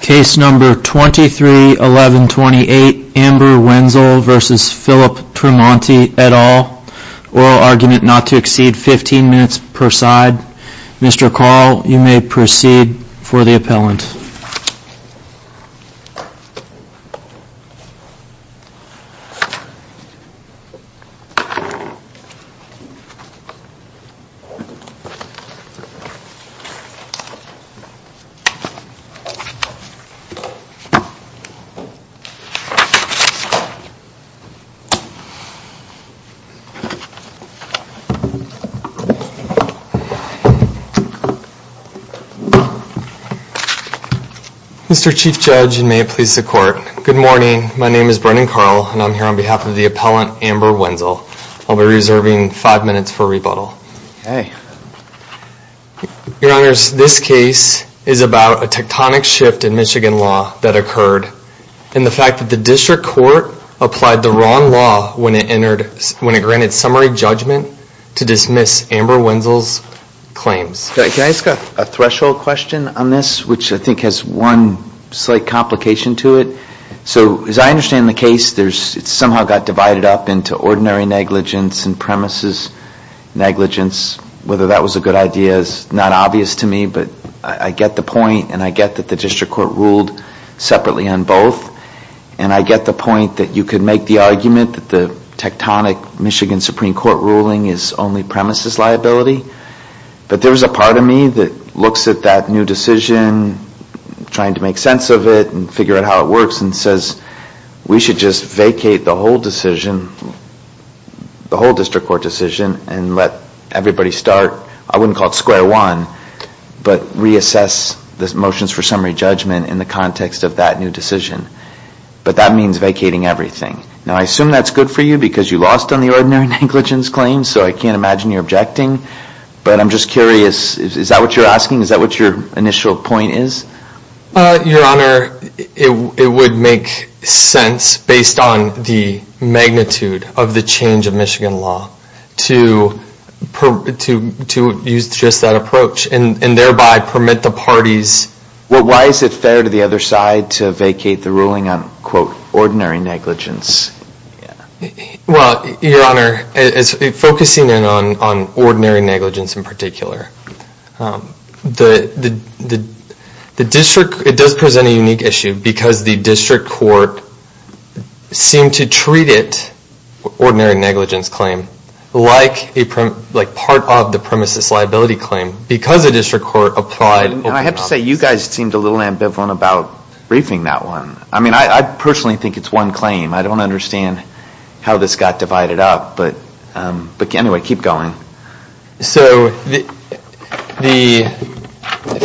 Case number 231128 Amber Wenzel v. Phillip Tremonti et al. Oral argument not to exceed 15 minutes per side. Mr. Carl, you may proceed for the appellant. Mr. Chief Judge, and may it please the Court, good morning. My name is Brennan Carl, and I'm here on behalf of the appellant Amber Wenzel. I'll be reserving five minutes for rebuttal. Your Honors, this case is about a tectonic shift in Michigan law that occurred, and the fact that the District Court applied the wrong law when it granted summary judgment to dismiss Amber Wenzel's claims. Can I ask a threshold question on this, which I think has one slight complication to it? So as I understand the case, it somehow got divided up into ordinary negligence and premises negligence. Whether that was a good idea is not obvious to me, but I get the point, and I get that the District Court ruled separately on both. And I get the point that you could make the argument that the tectonic Michigan Supreme Court ruling is only premises liability. But there's a part of me that looks at that new decision, trying to make sense of it and figure out how it works, and says, we should just vacate the whole decision, the whole District Court decision, and let everybody start. I wouldn't call it square one, but reassess the motions for summary judgment in the context of that new decision. But that means vacating everything. Now, I assume that's good for you, because you lost on the ordinary negligence claim, so I can't imagine you're objecting. But I'm just curious, is that what you're asking? Is that what your initial point is? Your Honor, it would make sense, based on the magnitude of the change of Michigan law, to use just that approach, and thereby permit the parties. Well, why is it fair to the other side to vacate the ruling on, quote, ordinary negligence? Well, Your Honor, focusing in on ordinary negligence in particular, the District, it does present a unique issue, because the District Court seemed to treat it, ordinary negligence claim, like part of the premises liability claim, because the District Court applied... And I have to say, you guys seemed a little ambivalent about briefing that one. I mean, I personally think it's one claim. I don't understand how this got divided up, but anyway, keep going. So,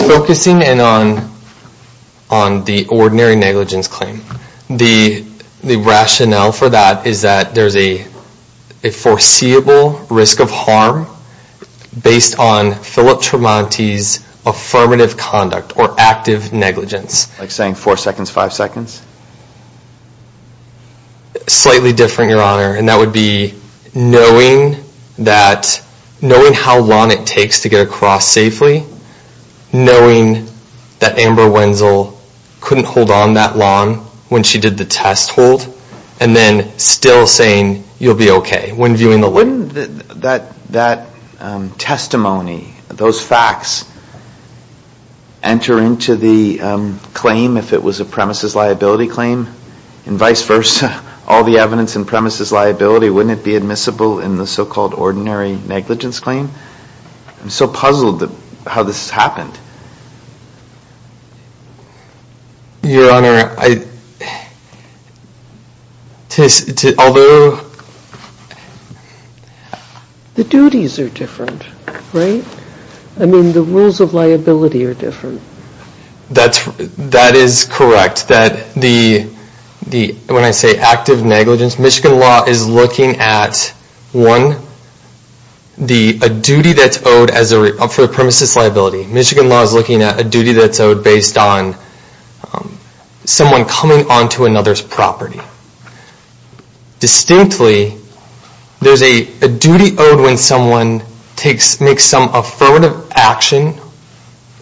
focusing in on the ordinary negligence claim, the rationale for that is that there's a foreseeable risk of harm, based on Philip Tremonti's affirmative conduct, or active negligence. Like saying four seconds, five seconds? Slightly different, Your Honor, and that would be knowing how long it takes to get across safely, knowing that Amber Wenzel couldn't hold on that long when she did the test hold, and then still saying, you'll be okay, when viewing the law. Wouldn't that testimony, those facts, enter into the claim, if it was a premises liability claim? And vice versa, all the evidence in premises liability, wouldn't it be admissible in the so-called ordinary negligence claim? I'm so puzzled how this happened. Your Honor, although... The duties are different, right? I mean, the rules of liability are different. That is correct. When I say active negligence, Michigan law is looking at, one, a duty that's owed for a premises liability. Michigan law is looking at a duty that's owed based on someone coming onto another's property. Distinctly, there's a duty owed when someone makes some affirmative action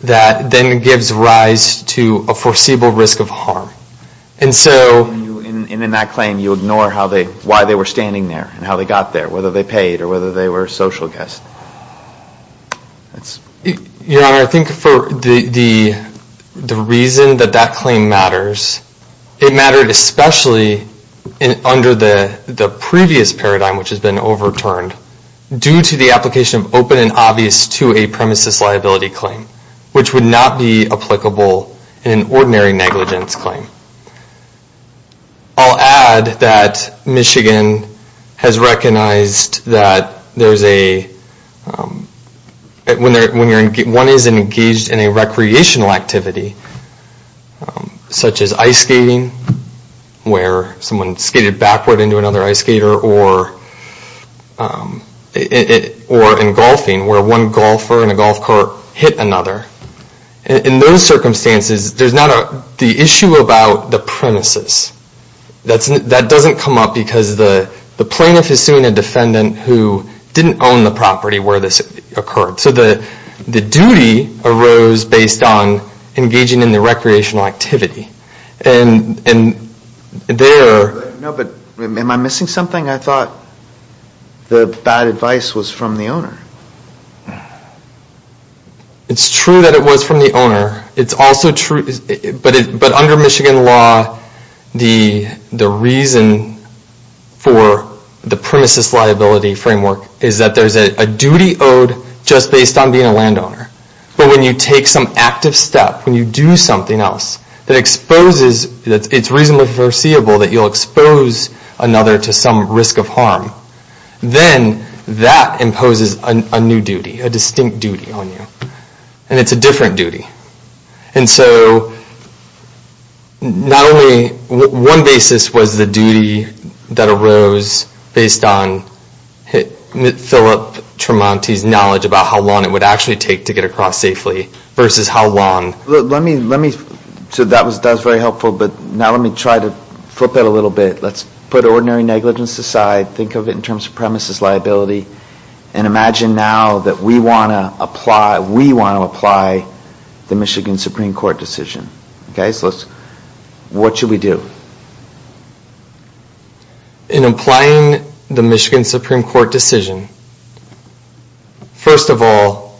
that then gives rise to a foreseeable risk of harm. And so... And in that claim, you ignore why they were standing there and how they got there, whether they paid or whether they were a social guest. Your Honor, I think for the reason that that claim matters, it mattered especially under the previous paradigm, which has been overturned, due to the application of open and obvious to a premises liability claim, which would not be applicable in an ordinary negligence claim. I'll add that Michigan has recognized that there's a... When one is engaged in a recreational activity, such as ice skating, where someone skated backward into another ice skater, or in golfing, where one golfer in a golf cart hit another. In those circumstances, there's not the issue about the premises. That doesn't come up because the plaintiff is seeing a defendant who didn't own the property where this occurred. So the duty arose based on engaging in the recreational activity. And there... No, but am I missing something? I thought the bad advice was from the owner. It's true that it was from the owner. It's also true... But under Michigan law, the reason for the premises liability framework is that there's a duty owed just based on being a landowner. But when you take some active step, when you do something else, that exposes... It's reasonably foreseeable that you'll expose another to some risk of harm. Then that imposes a new duty, a distinct duty on you. And it's a different duty. And so not only... One basis was the duty that arose based on Philip Tremonti's knowledge about how long it would actually take to get across safely versus how long... Let me... So that was very helpful, but now let me try to flip it a little bit. Let's put ordinary negligence aside. Think of it in terms of premises liability. And imagine now that we want to apply the Michigan Supreme Court decision. Okay, so let's... What should we do? In applying the Michigan Supreme Court decision, first of all,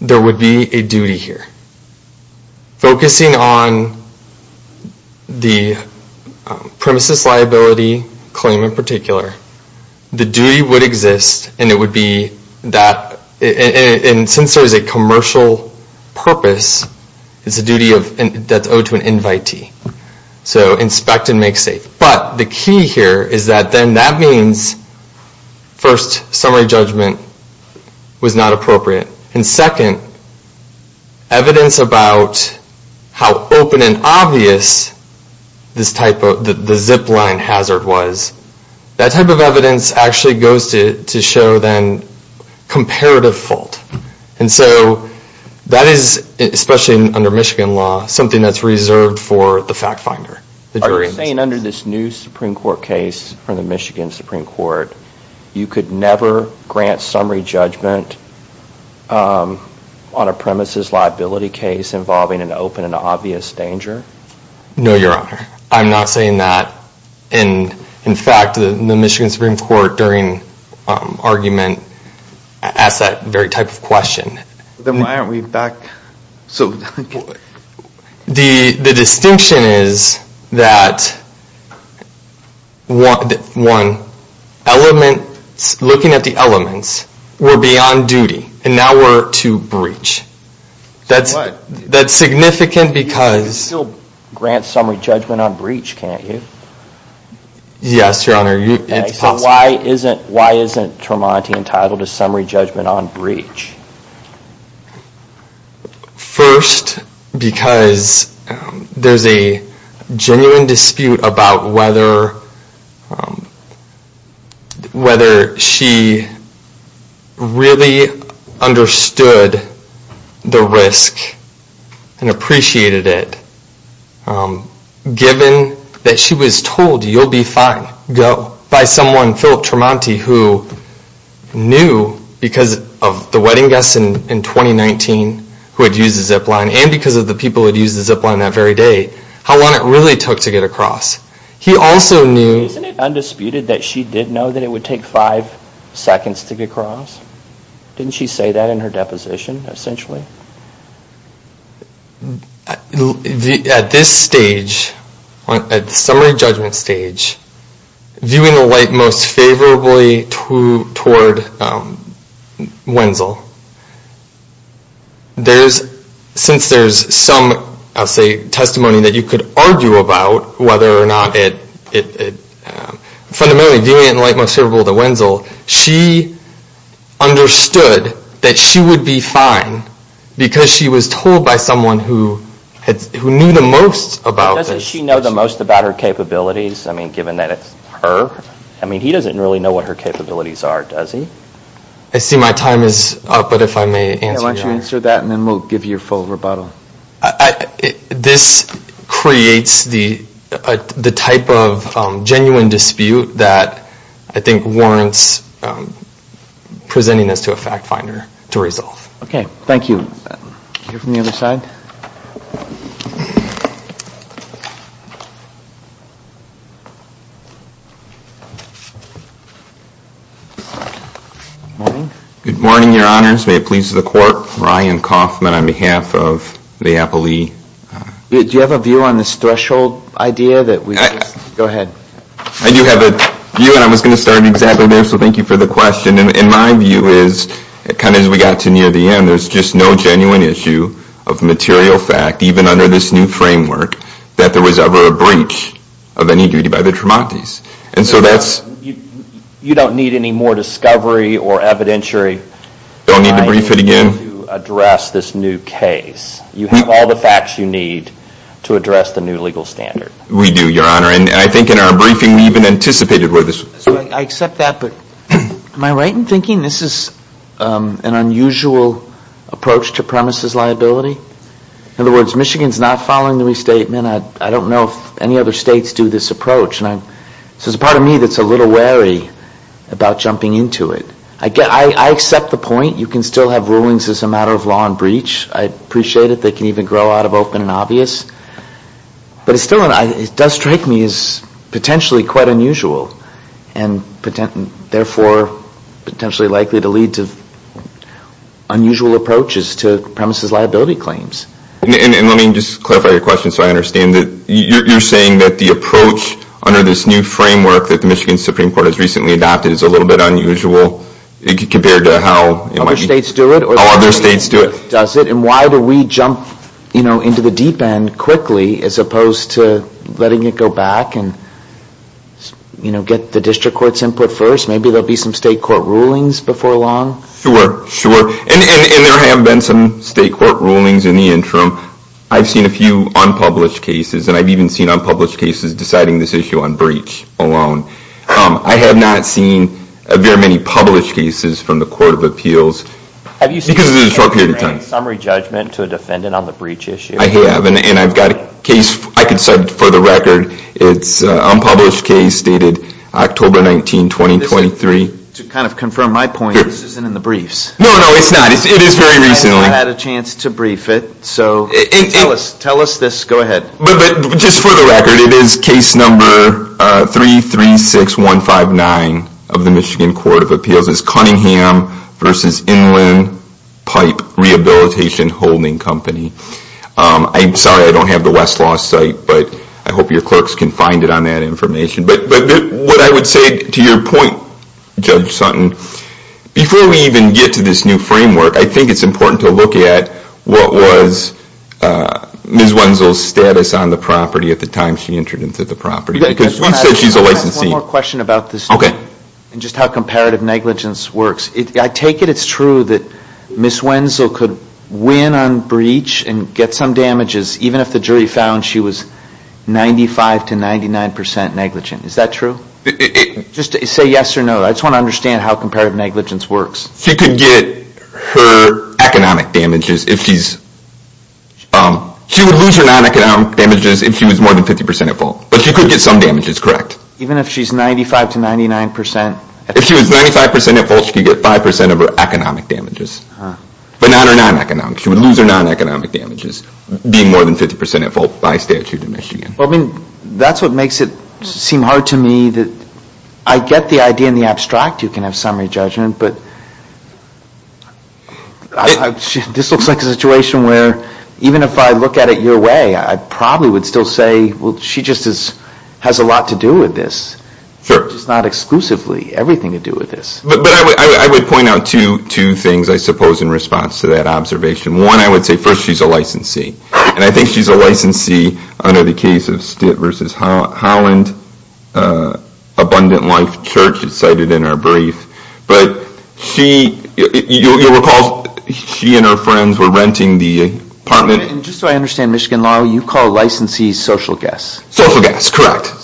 there would be a duty here. Focusing on the premises liability claim in particular, the duty would exist and it would be that... And since there is a commercial purpose, it's a duty that's owed to an invitee. So inspect and make safe. But the key here is that then that means first, summary judgment was not appropriate. And second, evidence about how open and obvious this type of... The zip line hazard was, that type of evidence actually goes to show then comparative fault. And so that is, especially under Michigan law, something that's reserved for the fact finder. Are you saying under this new Supreme Court case from the Michigan Supreme Court, you could never grant summary judgment on a premises liability case involving an open and obvious danger? No, Your Honor. I'm not saying that. And in fact, the Michigan Supreme Court during argument asked that very type of question. Then why aren't we back... The distinction is that one, looking at the elements, we're beyond duty and now we're to breach. That's significant because... You still grant summary judgment on breach, can't you? Yes, Your Honor. So why isn't Tremonti entitled to summary judgment on breach? First, because there's a genuine dispute about whether she really understood the risk and appreciated it, given that she was told, you'll be fine by someone, Philip Tremonti, who knew because of the wedding guests in 2019 who had used the zip line and because of the people who had used the zip line that very day, how long it really took to get across. He also knew... Isn't it undisputed that she did know that it would take five seconds to get across? Didn't she say that in her deposition, essentially? At this stage, at the summary judgment stage, viewing the light most favorably toward Wenzel, since there's some, I'll say, testimony that you could argue about whether or not it... Fundamentally, viewing it in light most favorable to Wenzel, she understood that she would be fine because she was told by someone who knew the most about... Doesn't she know the most about her capabilities, given that it's her? He doesn't really know what her capabilities are, does he? I see my time is up, but if I may answer... Why don't you answer that, and then we'll give you your full rebuttal. This creates the type of genuine dispute that I think warrants presenting this to a fact finder to resolve. Okay, thank you. Here from the other side. Good morning. Good morning, your honors. May it please the court. Ryan Kaufman on behalf of the appellee. Do you have a view on this threshold idea that we... Go ahead. I do have a view, and I was going to start exactly there, so thank you for the question. In my view, as we got to near the end, there's just no genuine issue of material fact, even under this new framework, that there was ever a breach of any duty by the Tremontis. And so that's... You don't need any more discovery or evidentiary... Don't need to brief it again? ...to address this new case. You have all the facts you need to address the new legal standard. We do, your honor, and I think in our briefing we even anticipated where this... I accept that, but am I right in thinking this is an unusual approach to premises liability? In other words, Michigan's not following the restatement. I don't know if any other states do this approach. So it's a part of me that's a little wary about jumping into it. I accept the point. You can still have rulings as a matter of law and breach. I appreciate it. They can even grow out of open and obvious. But it still does strike me as potentially quite unusual and therefore potentially likely to lead to unusual approaches to premises liability claims. And let me just clarify your question so I understand. You're saying that the approach under this new framework that the Michigan Supreme Court has recently adopted is a little bit unusual compared to how... Other states do it? Other states do it. Does it? And why do we jump into the deep end quickly as opposed to letting it go back and get the district court's input first? Maybe there will be some state court rulings before long? Sure, sure. And there have been some state court rulings in the interim. I've seen a few unpublished cases, and I've even seen unpublished cases deciding this issue on breach alone. I have not seen very many published cases from the Court of Appeals because it is a short period of time. Have you seen a case that grants summary judgment to a defendant on the breach issue? I have, and I've got a case. I can set it for the record. It's an unpublished case dated October 19, 2023. To kind of confirm my point, this isn't in the briefs. No, no, it's not. It is very recently. I haven't had a chance to brief it, so tell us this. But just for the record, it is case number 336159 of the Michigan Court of Appeals. It's Cunningham v. Inland Pipe Rehabilitation Holding Company. I'm sorry I don't have the Westlaw site, but I hope your clerks can find it on that information. But what I would say, to your point, Judge Sutton, before we even get to this new framework, I think it's important to look at what was Ms. Wenzel's status on the property at the time she entered into the property because we said she's a licensee. I just want to ask one more question about this, and just how comparative negligence works. I take it it's true that Ms. Wenzel could win on breach and get some damages even if the jury found she was 95-99% negligent. Is that true? Just say yes or no. I just want to understand how comparative negligence works. She could get her economic damages if she's... She would lose her non-economic damages if she was more than 50% at fault, but she could get some damages, correct? Even if she's 95-99% at fault? If she was 95% at fault, she could get 5% of her economic damages. But not her non-economic. She would lose her non-economic damages being more than 50% at fault by statute in Michigan. That's what makes it seem hard to me. I get the idea in the abstract you can have summary judgment, but this looks like a situation where even if I look at it your way, I probably would still say, well, she just has a lot to do with this. It's not exclusively everything to do with this. I would point out two things, I suppose, in response to that observation. One, I would say first she's a licensee, and I think she's a licensee under the case of Stitt v. Holland, Abundant Life Church, as cited in our brief. But you'll recall she and her friends were renting the apartment. Just so I understand, Michigan Law, you call licensees social guests? Social guests, correct.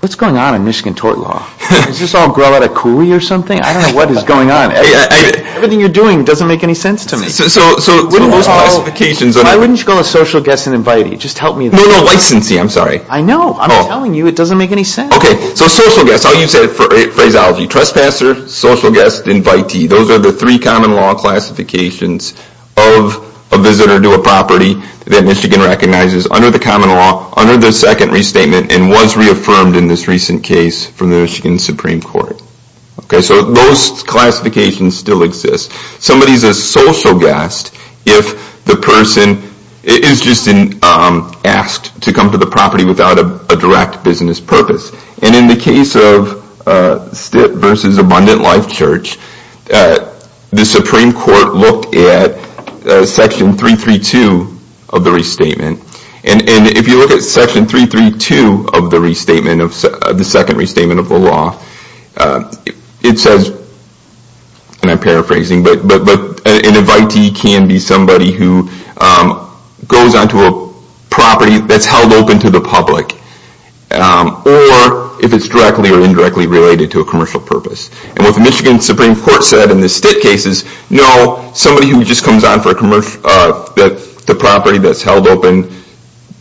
What's going on in Michigan tort law? Is this all growl out of cooey or something? I don't know what is going on. Everything you're doing doesn't make any sense to me. Why wouldn't you call a social guest an invitee? Just help me. No, no, licensee, I'm sorry. I know. I'm telling you it doesn't make any sense. Okay, so social guests, I'll use that phraseology. Trespasser, social guest, invitee. Those are the three common law classifications of a visitor to a property that Michigan recognizes under the common law under the second restatement and was reaffirmed in this recent case from the Michigan Supreme Court. Okay, so those classifications still exist. Somebody is a social guest if the person is just asked to come to the property without a direct business purpose. And in the case of Stitt v. Abundant Life Church, the Supreme Court looked at Section 332 of the restatement. And if you look at Section 332 of the second restatement of the law, it says, and I'm paraphrasing, but an invitee can be somebody who goes onto a property that's held open to the public or if it's directly or indirectly related to a commercial purpose. And what the Michigan Supreme Court said in the Stitt cases, no, somebody who just comes on for a commercial property that's held open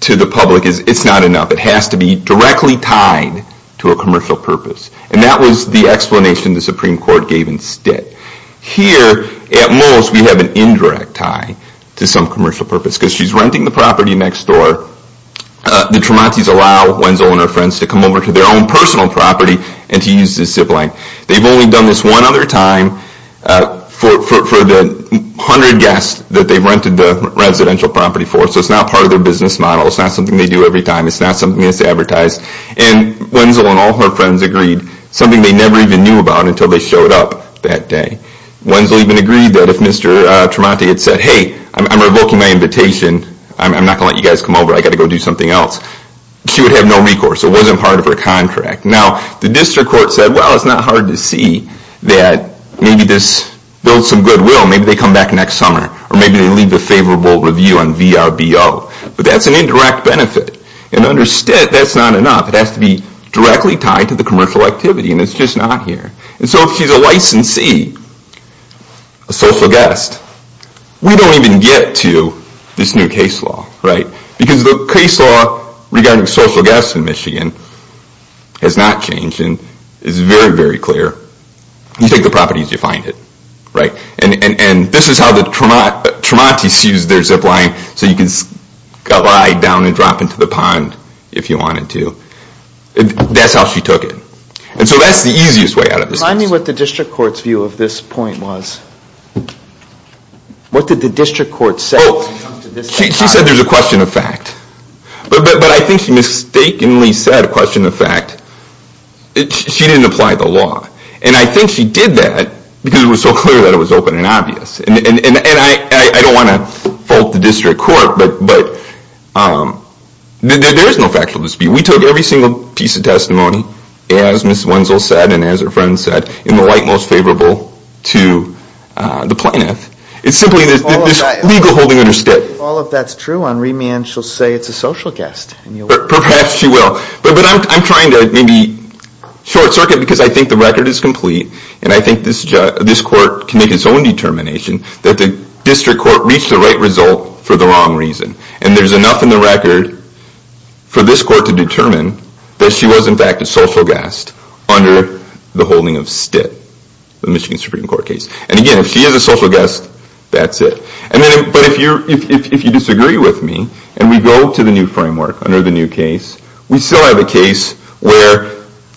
to the public, it's not enough. It has to be directly tied to a commercial purpose. And that was the explanation the Supreme Court gave in Stitt. Here, at most, we have an indirect tie to some commercial purpose because she's renting the property next door. The Tremontis allow Wenzel and her friends to come over to their own personal property and to use the zip line. They've only done this one other time for the 100 guests that they've rented the residential property for. So it's not part of their business model. It's not something they do every time. It's not something that's advertised. And Wenzel and all her friends agreed, something they never even knew about until they showed up that day. Wenzel even agreed that if Mr. Tremonti had said, hey, I'm revoking my invitation. I'm not going to let you guys come over. I've got to go do something else. She would have no recourse. It wasn't part of her contract. Now, the district court said, well, it's not hard to see that maybe this builds some goodwill. Maybe they come back next summer. Or maybe they leave a favorable review on VRBO. But that's an indirect benefit. And under Stitt, that's not enough. It has to be directly tied to the commercial activity. And it's just not here. And so if she's a licensee, a social guest, we don't even get to this new case law. Because the case law regarding social guests in Michigan has not changed and is very, very clear. You take the properties, you find it. And this is how the Tremontis used their zip line, so you could glide down and drop into the pond if you wanted to. That's how she took it. And so that's the easiest way out of this case. Remind me what the district court's view of this point was. What did the district court say? Well, she said there's a question of fact. But I think she mistakenly said a question of fact. She didn't apply the law. And I think she did that because it was so clear that it was open and obvious. And I don't want to fault the district court, but there is no factual dispute. We took every single piece of testimony, as Ms. Wenzel said and as her friend said, in the light most favorable to the plaintiff. It's simply this legal holding under STIT. If all of that's true, on remand she'll say it's a social guest. Perhaps she will. But I'm trying to maybe short circuit because I think the record is complete and I think this court can make its own determination that the district court reached the right result for the wrong reason. And there's enough in the record for this court to determine that she was, in fact, a social guest under the holding of STIT, the Michigan Supreme Court case. And again, if she is a social guest, that's it. But if you disagree with me and we go to the new framework under the new case, we still have a case where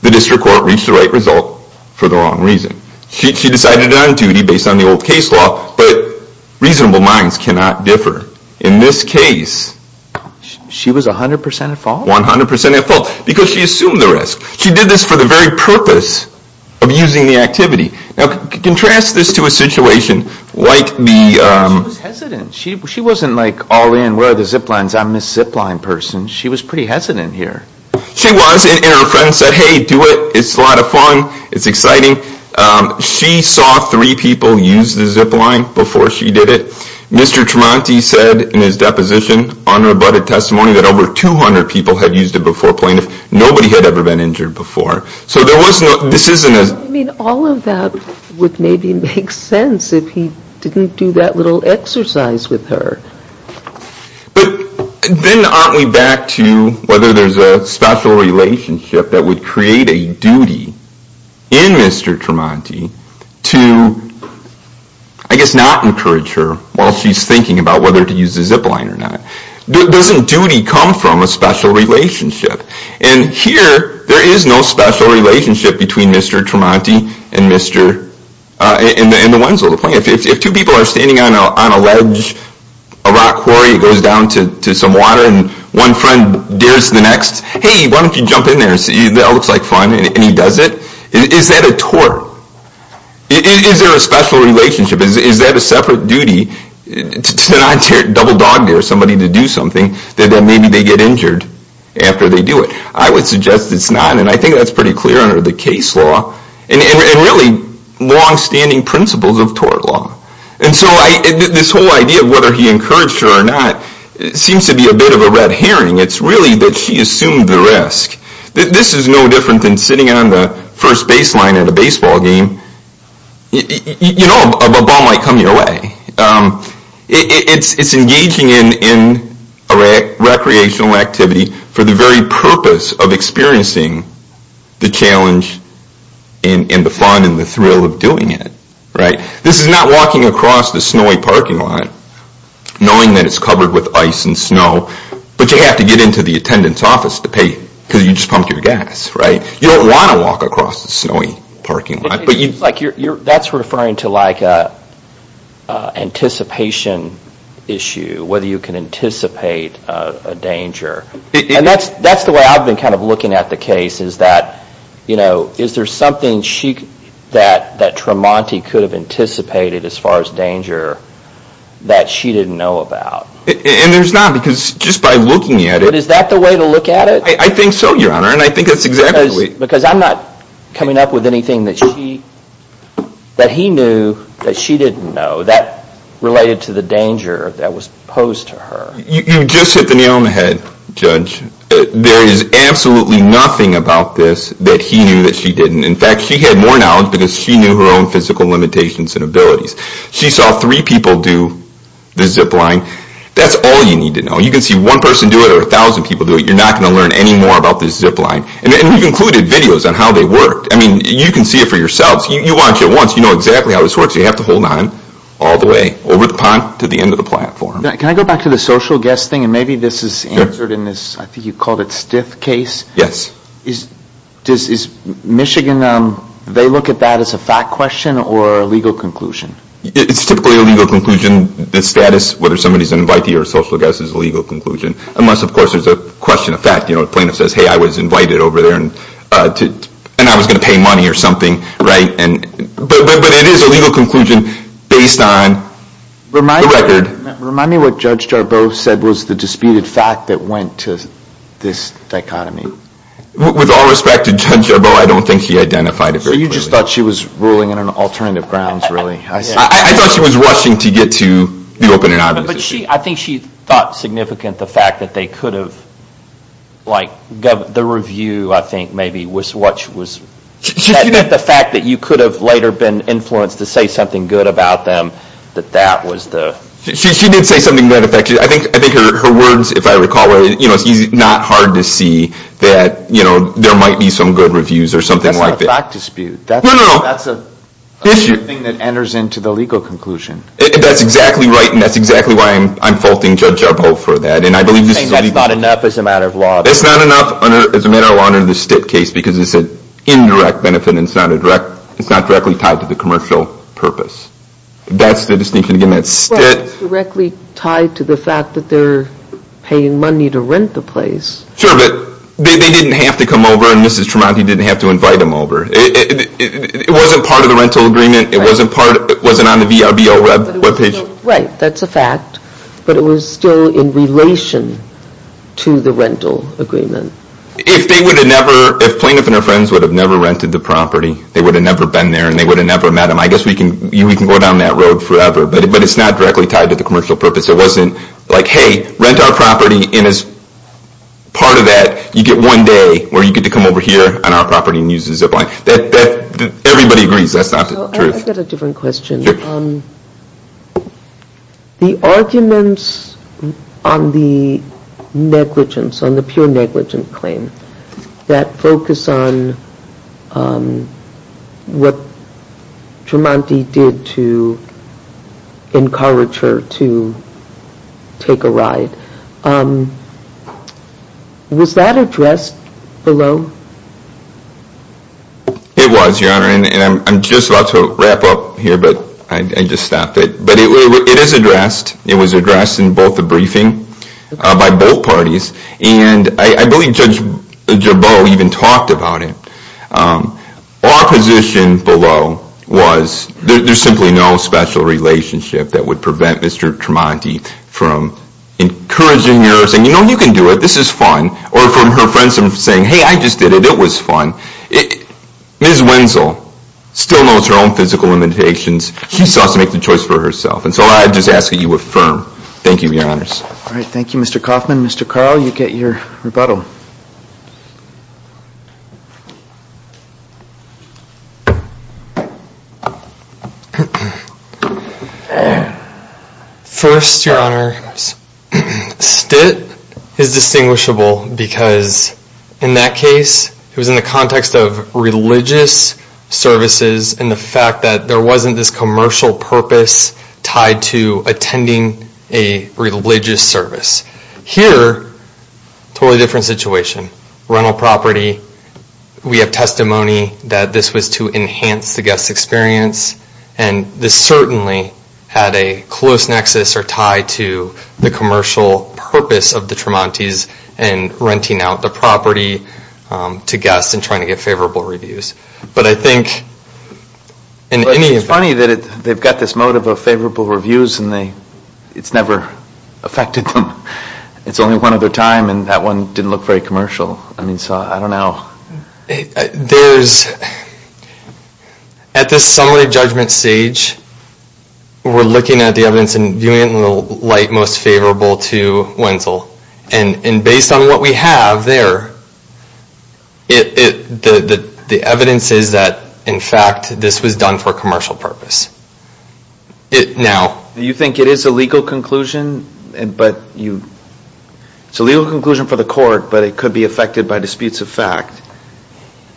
the district court reached the right result for the wrong reason. She decided on duty based on the old case law, but reasonable minds cannot differ. In this case... She was 100% at fault? 100% at fault because she assumed the risk. She did this for the very purpose of using the activity. Now contrast this to a situation like the... She was hesitant. She wasn't like all in, where are the zip lines? I'm a zip line person. She was pretty hesitant here. She was, and her friend said, hey, do it. It's a lot of fun. It's exciting. She saw three people use the zip line before she did it. Mr. Tremonti said in his deposition on rebutted testimony that over 200 people had used it before plaintiff. Nobody had ever been injured before. So there was no, this isn't a... I mean, all of that would maybe make sense if he didn't do that little exercise with her. But then aren't we back to whether there's a special relationship that would create a duty in Mr. Tremonti to, I guess, not encourage her while she's thinking about whether to use the zip line or not. Doesn't duty come from a special relationship? And here, there is no special relationship between Mr. Tremonti and the Wenzel. If two people are standing on a ledge, a rock quarry, it goes down to some water, and one friend dares the next, hey, why don't you jump in there? That looks like fun, and he does it. Is that a tort? Is there a special relationship? Is that a separate duty to not double dog dare somebody to do something that maybe they get injured after they do it? I would suggest it's not, and I think that's pretty clear under the case law and really longstanding principles of tort law. And so this whole idea of whether he encouraged her or not seems to be a bit of a red herring. It's really that she assumed the risk. This is no different than sitting on the first baseline at a baseball game. You know a ball might come your way. It's engaging in recreational activity for the very purpose of experiencing the challenge and the fun and the thrill of doing it. This is not walking across the snowy parking lot knowing that it's covered with ice and snow, but you have to get into the attendant's office to pay because you just pumped your gas. You don't want to walk across the snowy parking lot. That's referring to like an anticipation issue, whether you can anticipate a danger. And that's the way I've been kind of looking at the case, is that is there something that Tramonti could have anticipated as far as danger that she didn't know about? And there's not because just by looking at it. But is that the way to look at it? I think so, Your Honor, and I think that's exactly it. Because I'm not coming up with anything that he knew that she didn't know that related to the danger that was posed to her. You just hit the nail on the head, Judge. There is absolutely nothing about this that he knew that she didn't. In fact, she had more knowledge because she knew her own physical limitations and abilities. She saw three people do the zip line. That's all you need to know. You can see one person do it or a thousand people do it. You're not going to learn any more about this zip line. And you've included videos on how they worked. I mean, you can see it for yourselves. You watch it once. You know exactly how this works. You have to hold on all the way over the pond to the end of the platform. Can I go back to the social guest thing? And maybe this is answered in this, I think you called it, stiff case. Yes. Does Michigan, they look at that as a fact question or a legal conclusion? It's typically a legal conclusion. The status, whether somebody's an invitee or a social guest, is a legal conclusion. Unless, of course, there's a question of fact. Plaintiff says, hey, I was invited over there and I was going to pay money or something. But it is a legal conclusion based on the record. Remind me what Judge Jarboe said was the disputed fact that went to this dichotomy. With all respect to Judge Jarboe, I don't think he identified it very clearly. So you just thought she was ruling on alternative grounds, really? I thought she was rushing to get to the open and obvious issue. I think she thought significant the fact that they could have, like, the review, I think, maybe, was the fact that you could have later been influenced to say something good about them, that that was the... She did say something that affected. I think her words, if I recall, were, you know, it's not hard to see that, you know, there might be some good reviews or something like that. That's not a fact dispute. No, no, no. That's a thing that enters into the legal conclusion. That's exactly right, and that's exactly why I'm faulting Judge Jarboe for that. And I believe this is... Saying that's not enough as a matter of law. That's not enough as a matter of law under the Stitt case, because it's an indirect benefit, and it's not directly tied to the commercial purpose. That's the distinction, again, that Stitt... Well, it's directly tied to the fact that they're paying money to rent the place. Sure, but they didn't have to come over, and Mrs. Tremonti didn't have to invite them over. It wasn't part of the rental agreement. It wasn't on the VRBO webpage. Right, that's a fact, but it was still in relation to the rental agreement. If they would have never... If Plaintiff and her friends would have never rented the property, they would have never been there, and they would have never met them, I guess we can go down that road forever, but it's not directly tied to the commercial purpose. It wasn't like, hey, rent our property, and as part of that, you get one day where you get to come over here on our property and use the zip line. Everybody agrees that's not the truth. I've got a different question. The arguments on the negligence, on the pure negligent claim, that focus on what Tremonti did to encourage her to take a ride, was that addressed below? It was, Your Honor, and I'm just about to wrap up here, but I just stopped it. But it is addressed. It was addressed in both the briefing by both parties, and I believe Judge Gerbeau even talked about it. Our position below was there's simply no special relationship that would prevent Mr. Tremonti from encouraging her, saying, you know, you can do it, this is fun, or from her friends saying, hey, I just did it, it was fun. Ms. Wenzel still knows her own physical limitations. She still has to make the choice for herself, and so I just ask that you affirm. Thank you, Your Honors. All right, thank you, Mr. Kaufman. Mr. Carl, you get your rebuttal. First, Your Honor, STIT is distinguishable, because in that case, it was in the context of religious services, and the fact that there wasn't this commercial purpose tied to attending a religious service. Here, totally different situation. Rental property, we have testimony that this was to enhance the guest's experience, and this certainly had a close nexus or tie to the commercial purpose of the Tremontis and renting out the property to guests and trying to get favorable reviews. But I think in any event... But it's funny that they've got this motive of favorable reviews, and it's never affected them. It's only one other time, and that one didn't look very commercial. I mean, so I don't know. There's... At this summary judgment stage, we're looking at the evidence and viewing it in the light most favorable to Wenzel. And based on what we have there, the evidence is that, in fact, this was done for commercial purpose. Now... You think it is a legal conclusion, but you... It's a legal conclusion for the court, but it could be affected by disputes of fact.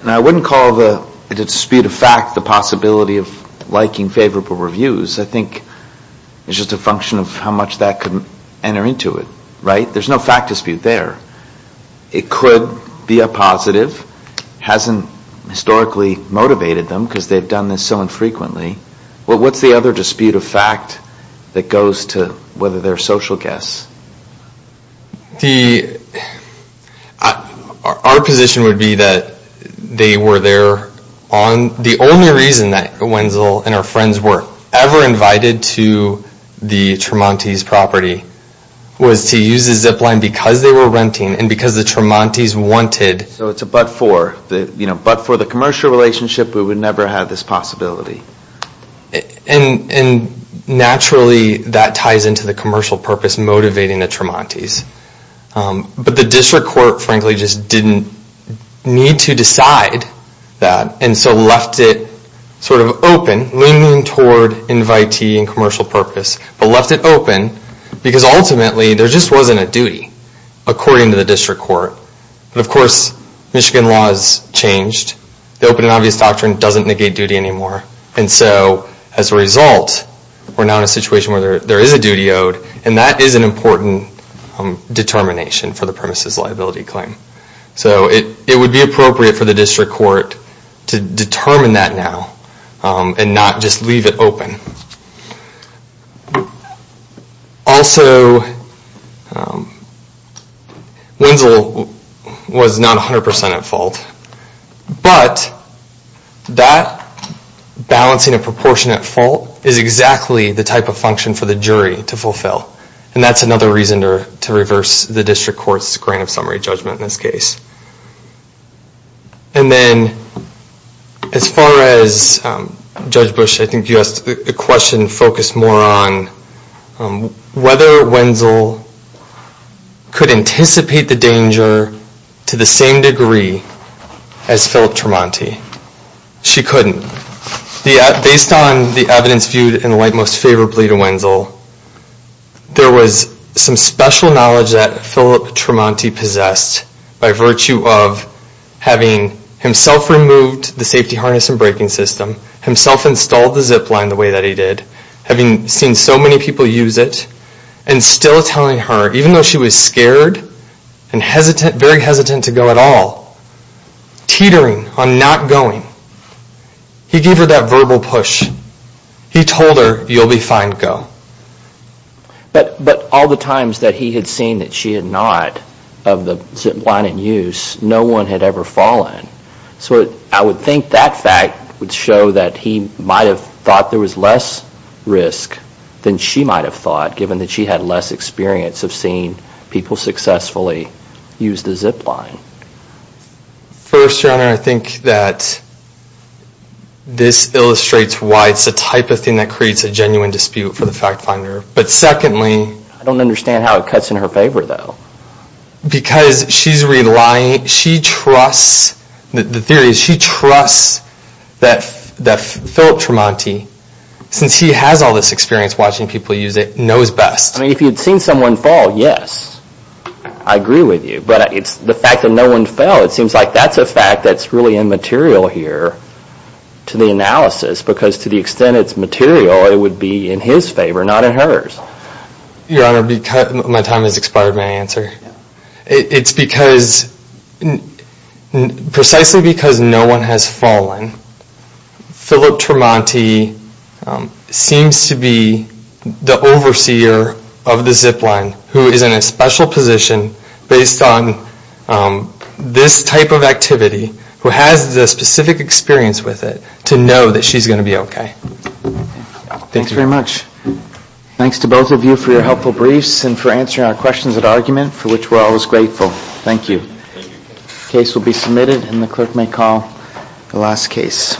Now, I wouldn't call the dispute of fact the possibility of liking favorable reviews. I think it's just a function of how much that could enter into it. Right? There's no fact dispute there. It could be a positive. It hasn't historically motivated them because they've done this so infrequently. Well, what's the other dispute of fact that goes to whether they're social guests? The... Our position would be that they were there on... The only reason that Wenzel and her friends were ever invited to the Tremonti's property was to use the zip line because they were renting and because the Tremonti's wanted... So it's a but-for. But for the commercial relationship, we would never have this possibility. And naturally, that ties into the commercial purpose motivating the Tremonti's. But the district court, frankly, just didn't need to decide that and so left it sort of open, leaning toward invitee and commercial purpose, but left it open because, ultimately, there just wasn't a duty, according to the district court. Of course, Michigan law has changed. The open and obvious doctrine doesn't negate duty anymore. And so, as a result, we're now in a situation where there is a duty owed and that is an important determination for the premises liability claim. So it would be appropriate for the district court to determine that now and not just leave it open. Also, Wenzel was not 100% at fault, but that balancing a proportionate fault is exactly the type of function for the jury to fulfill. And that's another reason to reverse the district court's grant of summary judgment in this case. And then, as far as Judge Bush, I think you asked a question, focused more on whether Wenzel could anticipate the danger to the same degree as Philip Tremonti. She couldn't. Based on the evidence viewed in light most favorably to Wenzel, there was some special knowledge that Philip Tremonti possessed by virtue of having himself removed the safety harness and braking system, himself installed the zip line the way that he did, having seen so many people use it, and still telling her, even though she was scared and very hesitant to go at all, teetering on not going, he gave her that verbal push. He told her, you'll be fine, go. But all the times that he had seen that she had not of the zip line in use, no one had ever fallen. So I would think that fact would show that he might have thought there was less risk than she might have thought, given that she had less experience of seeing people successfully use the zip line. First, Your Honor, I think that this illustrates why it's the type of thing that creates a genuine dispute for the fact finder. But secondly... I don't understand how it cuts in her favor, though. Because she's relying... She trusts... The theory is she trusts that Philip Tremonti, since he has all this experience watching people use it, knows best. I mean, if you'd seen someone fall, yes, I agree with you. But it's the fact that no one fell, it seems like that's a fact that's really immaterial here to the analysis, because to the extent it's material, it would be in his favor, not in hers. Your Honor, my time has expired my answer. It's because... Precisely because no one has fallen, Philip Tremonti seems to be the overseer of the zip line who is in a special position based on this type of activity, who has the specific experience with it, to know that she's going to be okay. Thanks very much. Thanks to both of you for your helpful briefs and for answering our questions at argument, for which we're always grateful. Thank you. The case will be submitted, and the clerk may call the last case.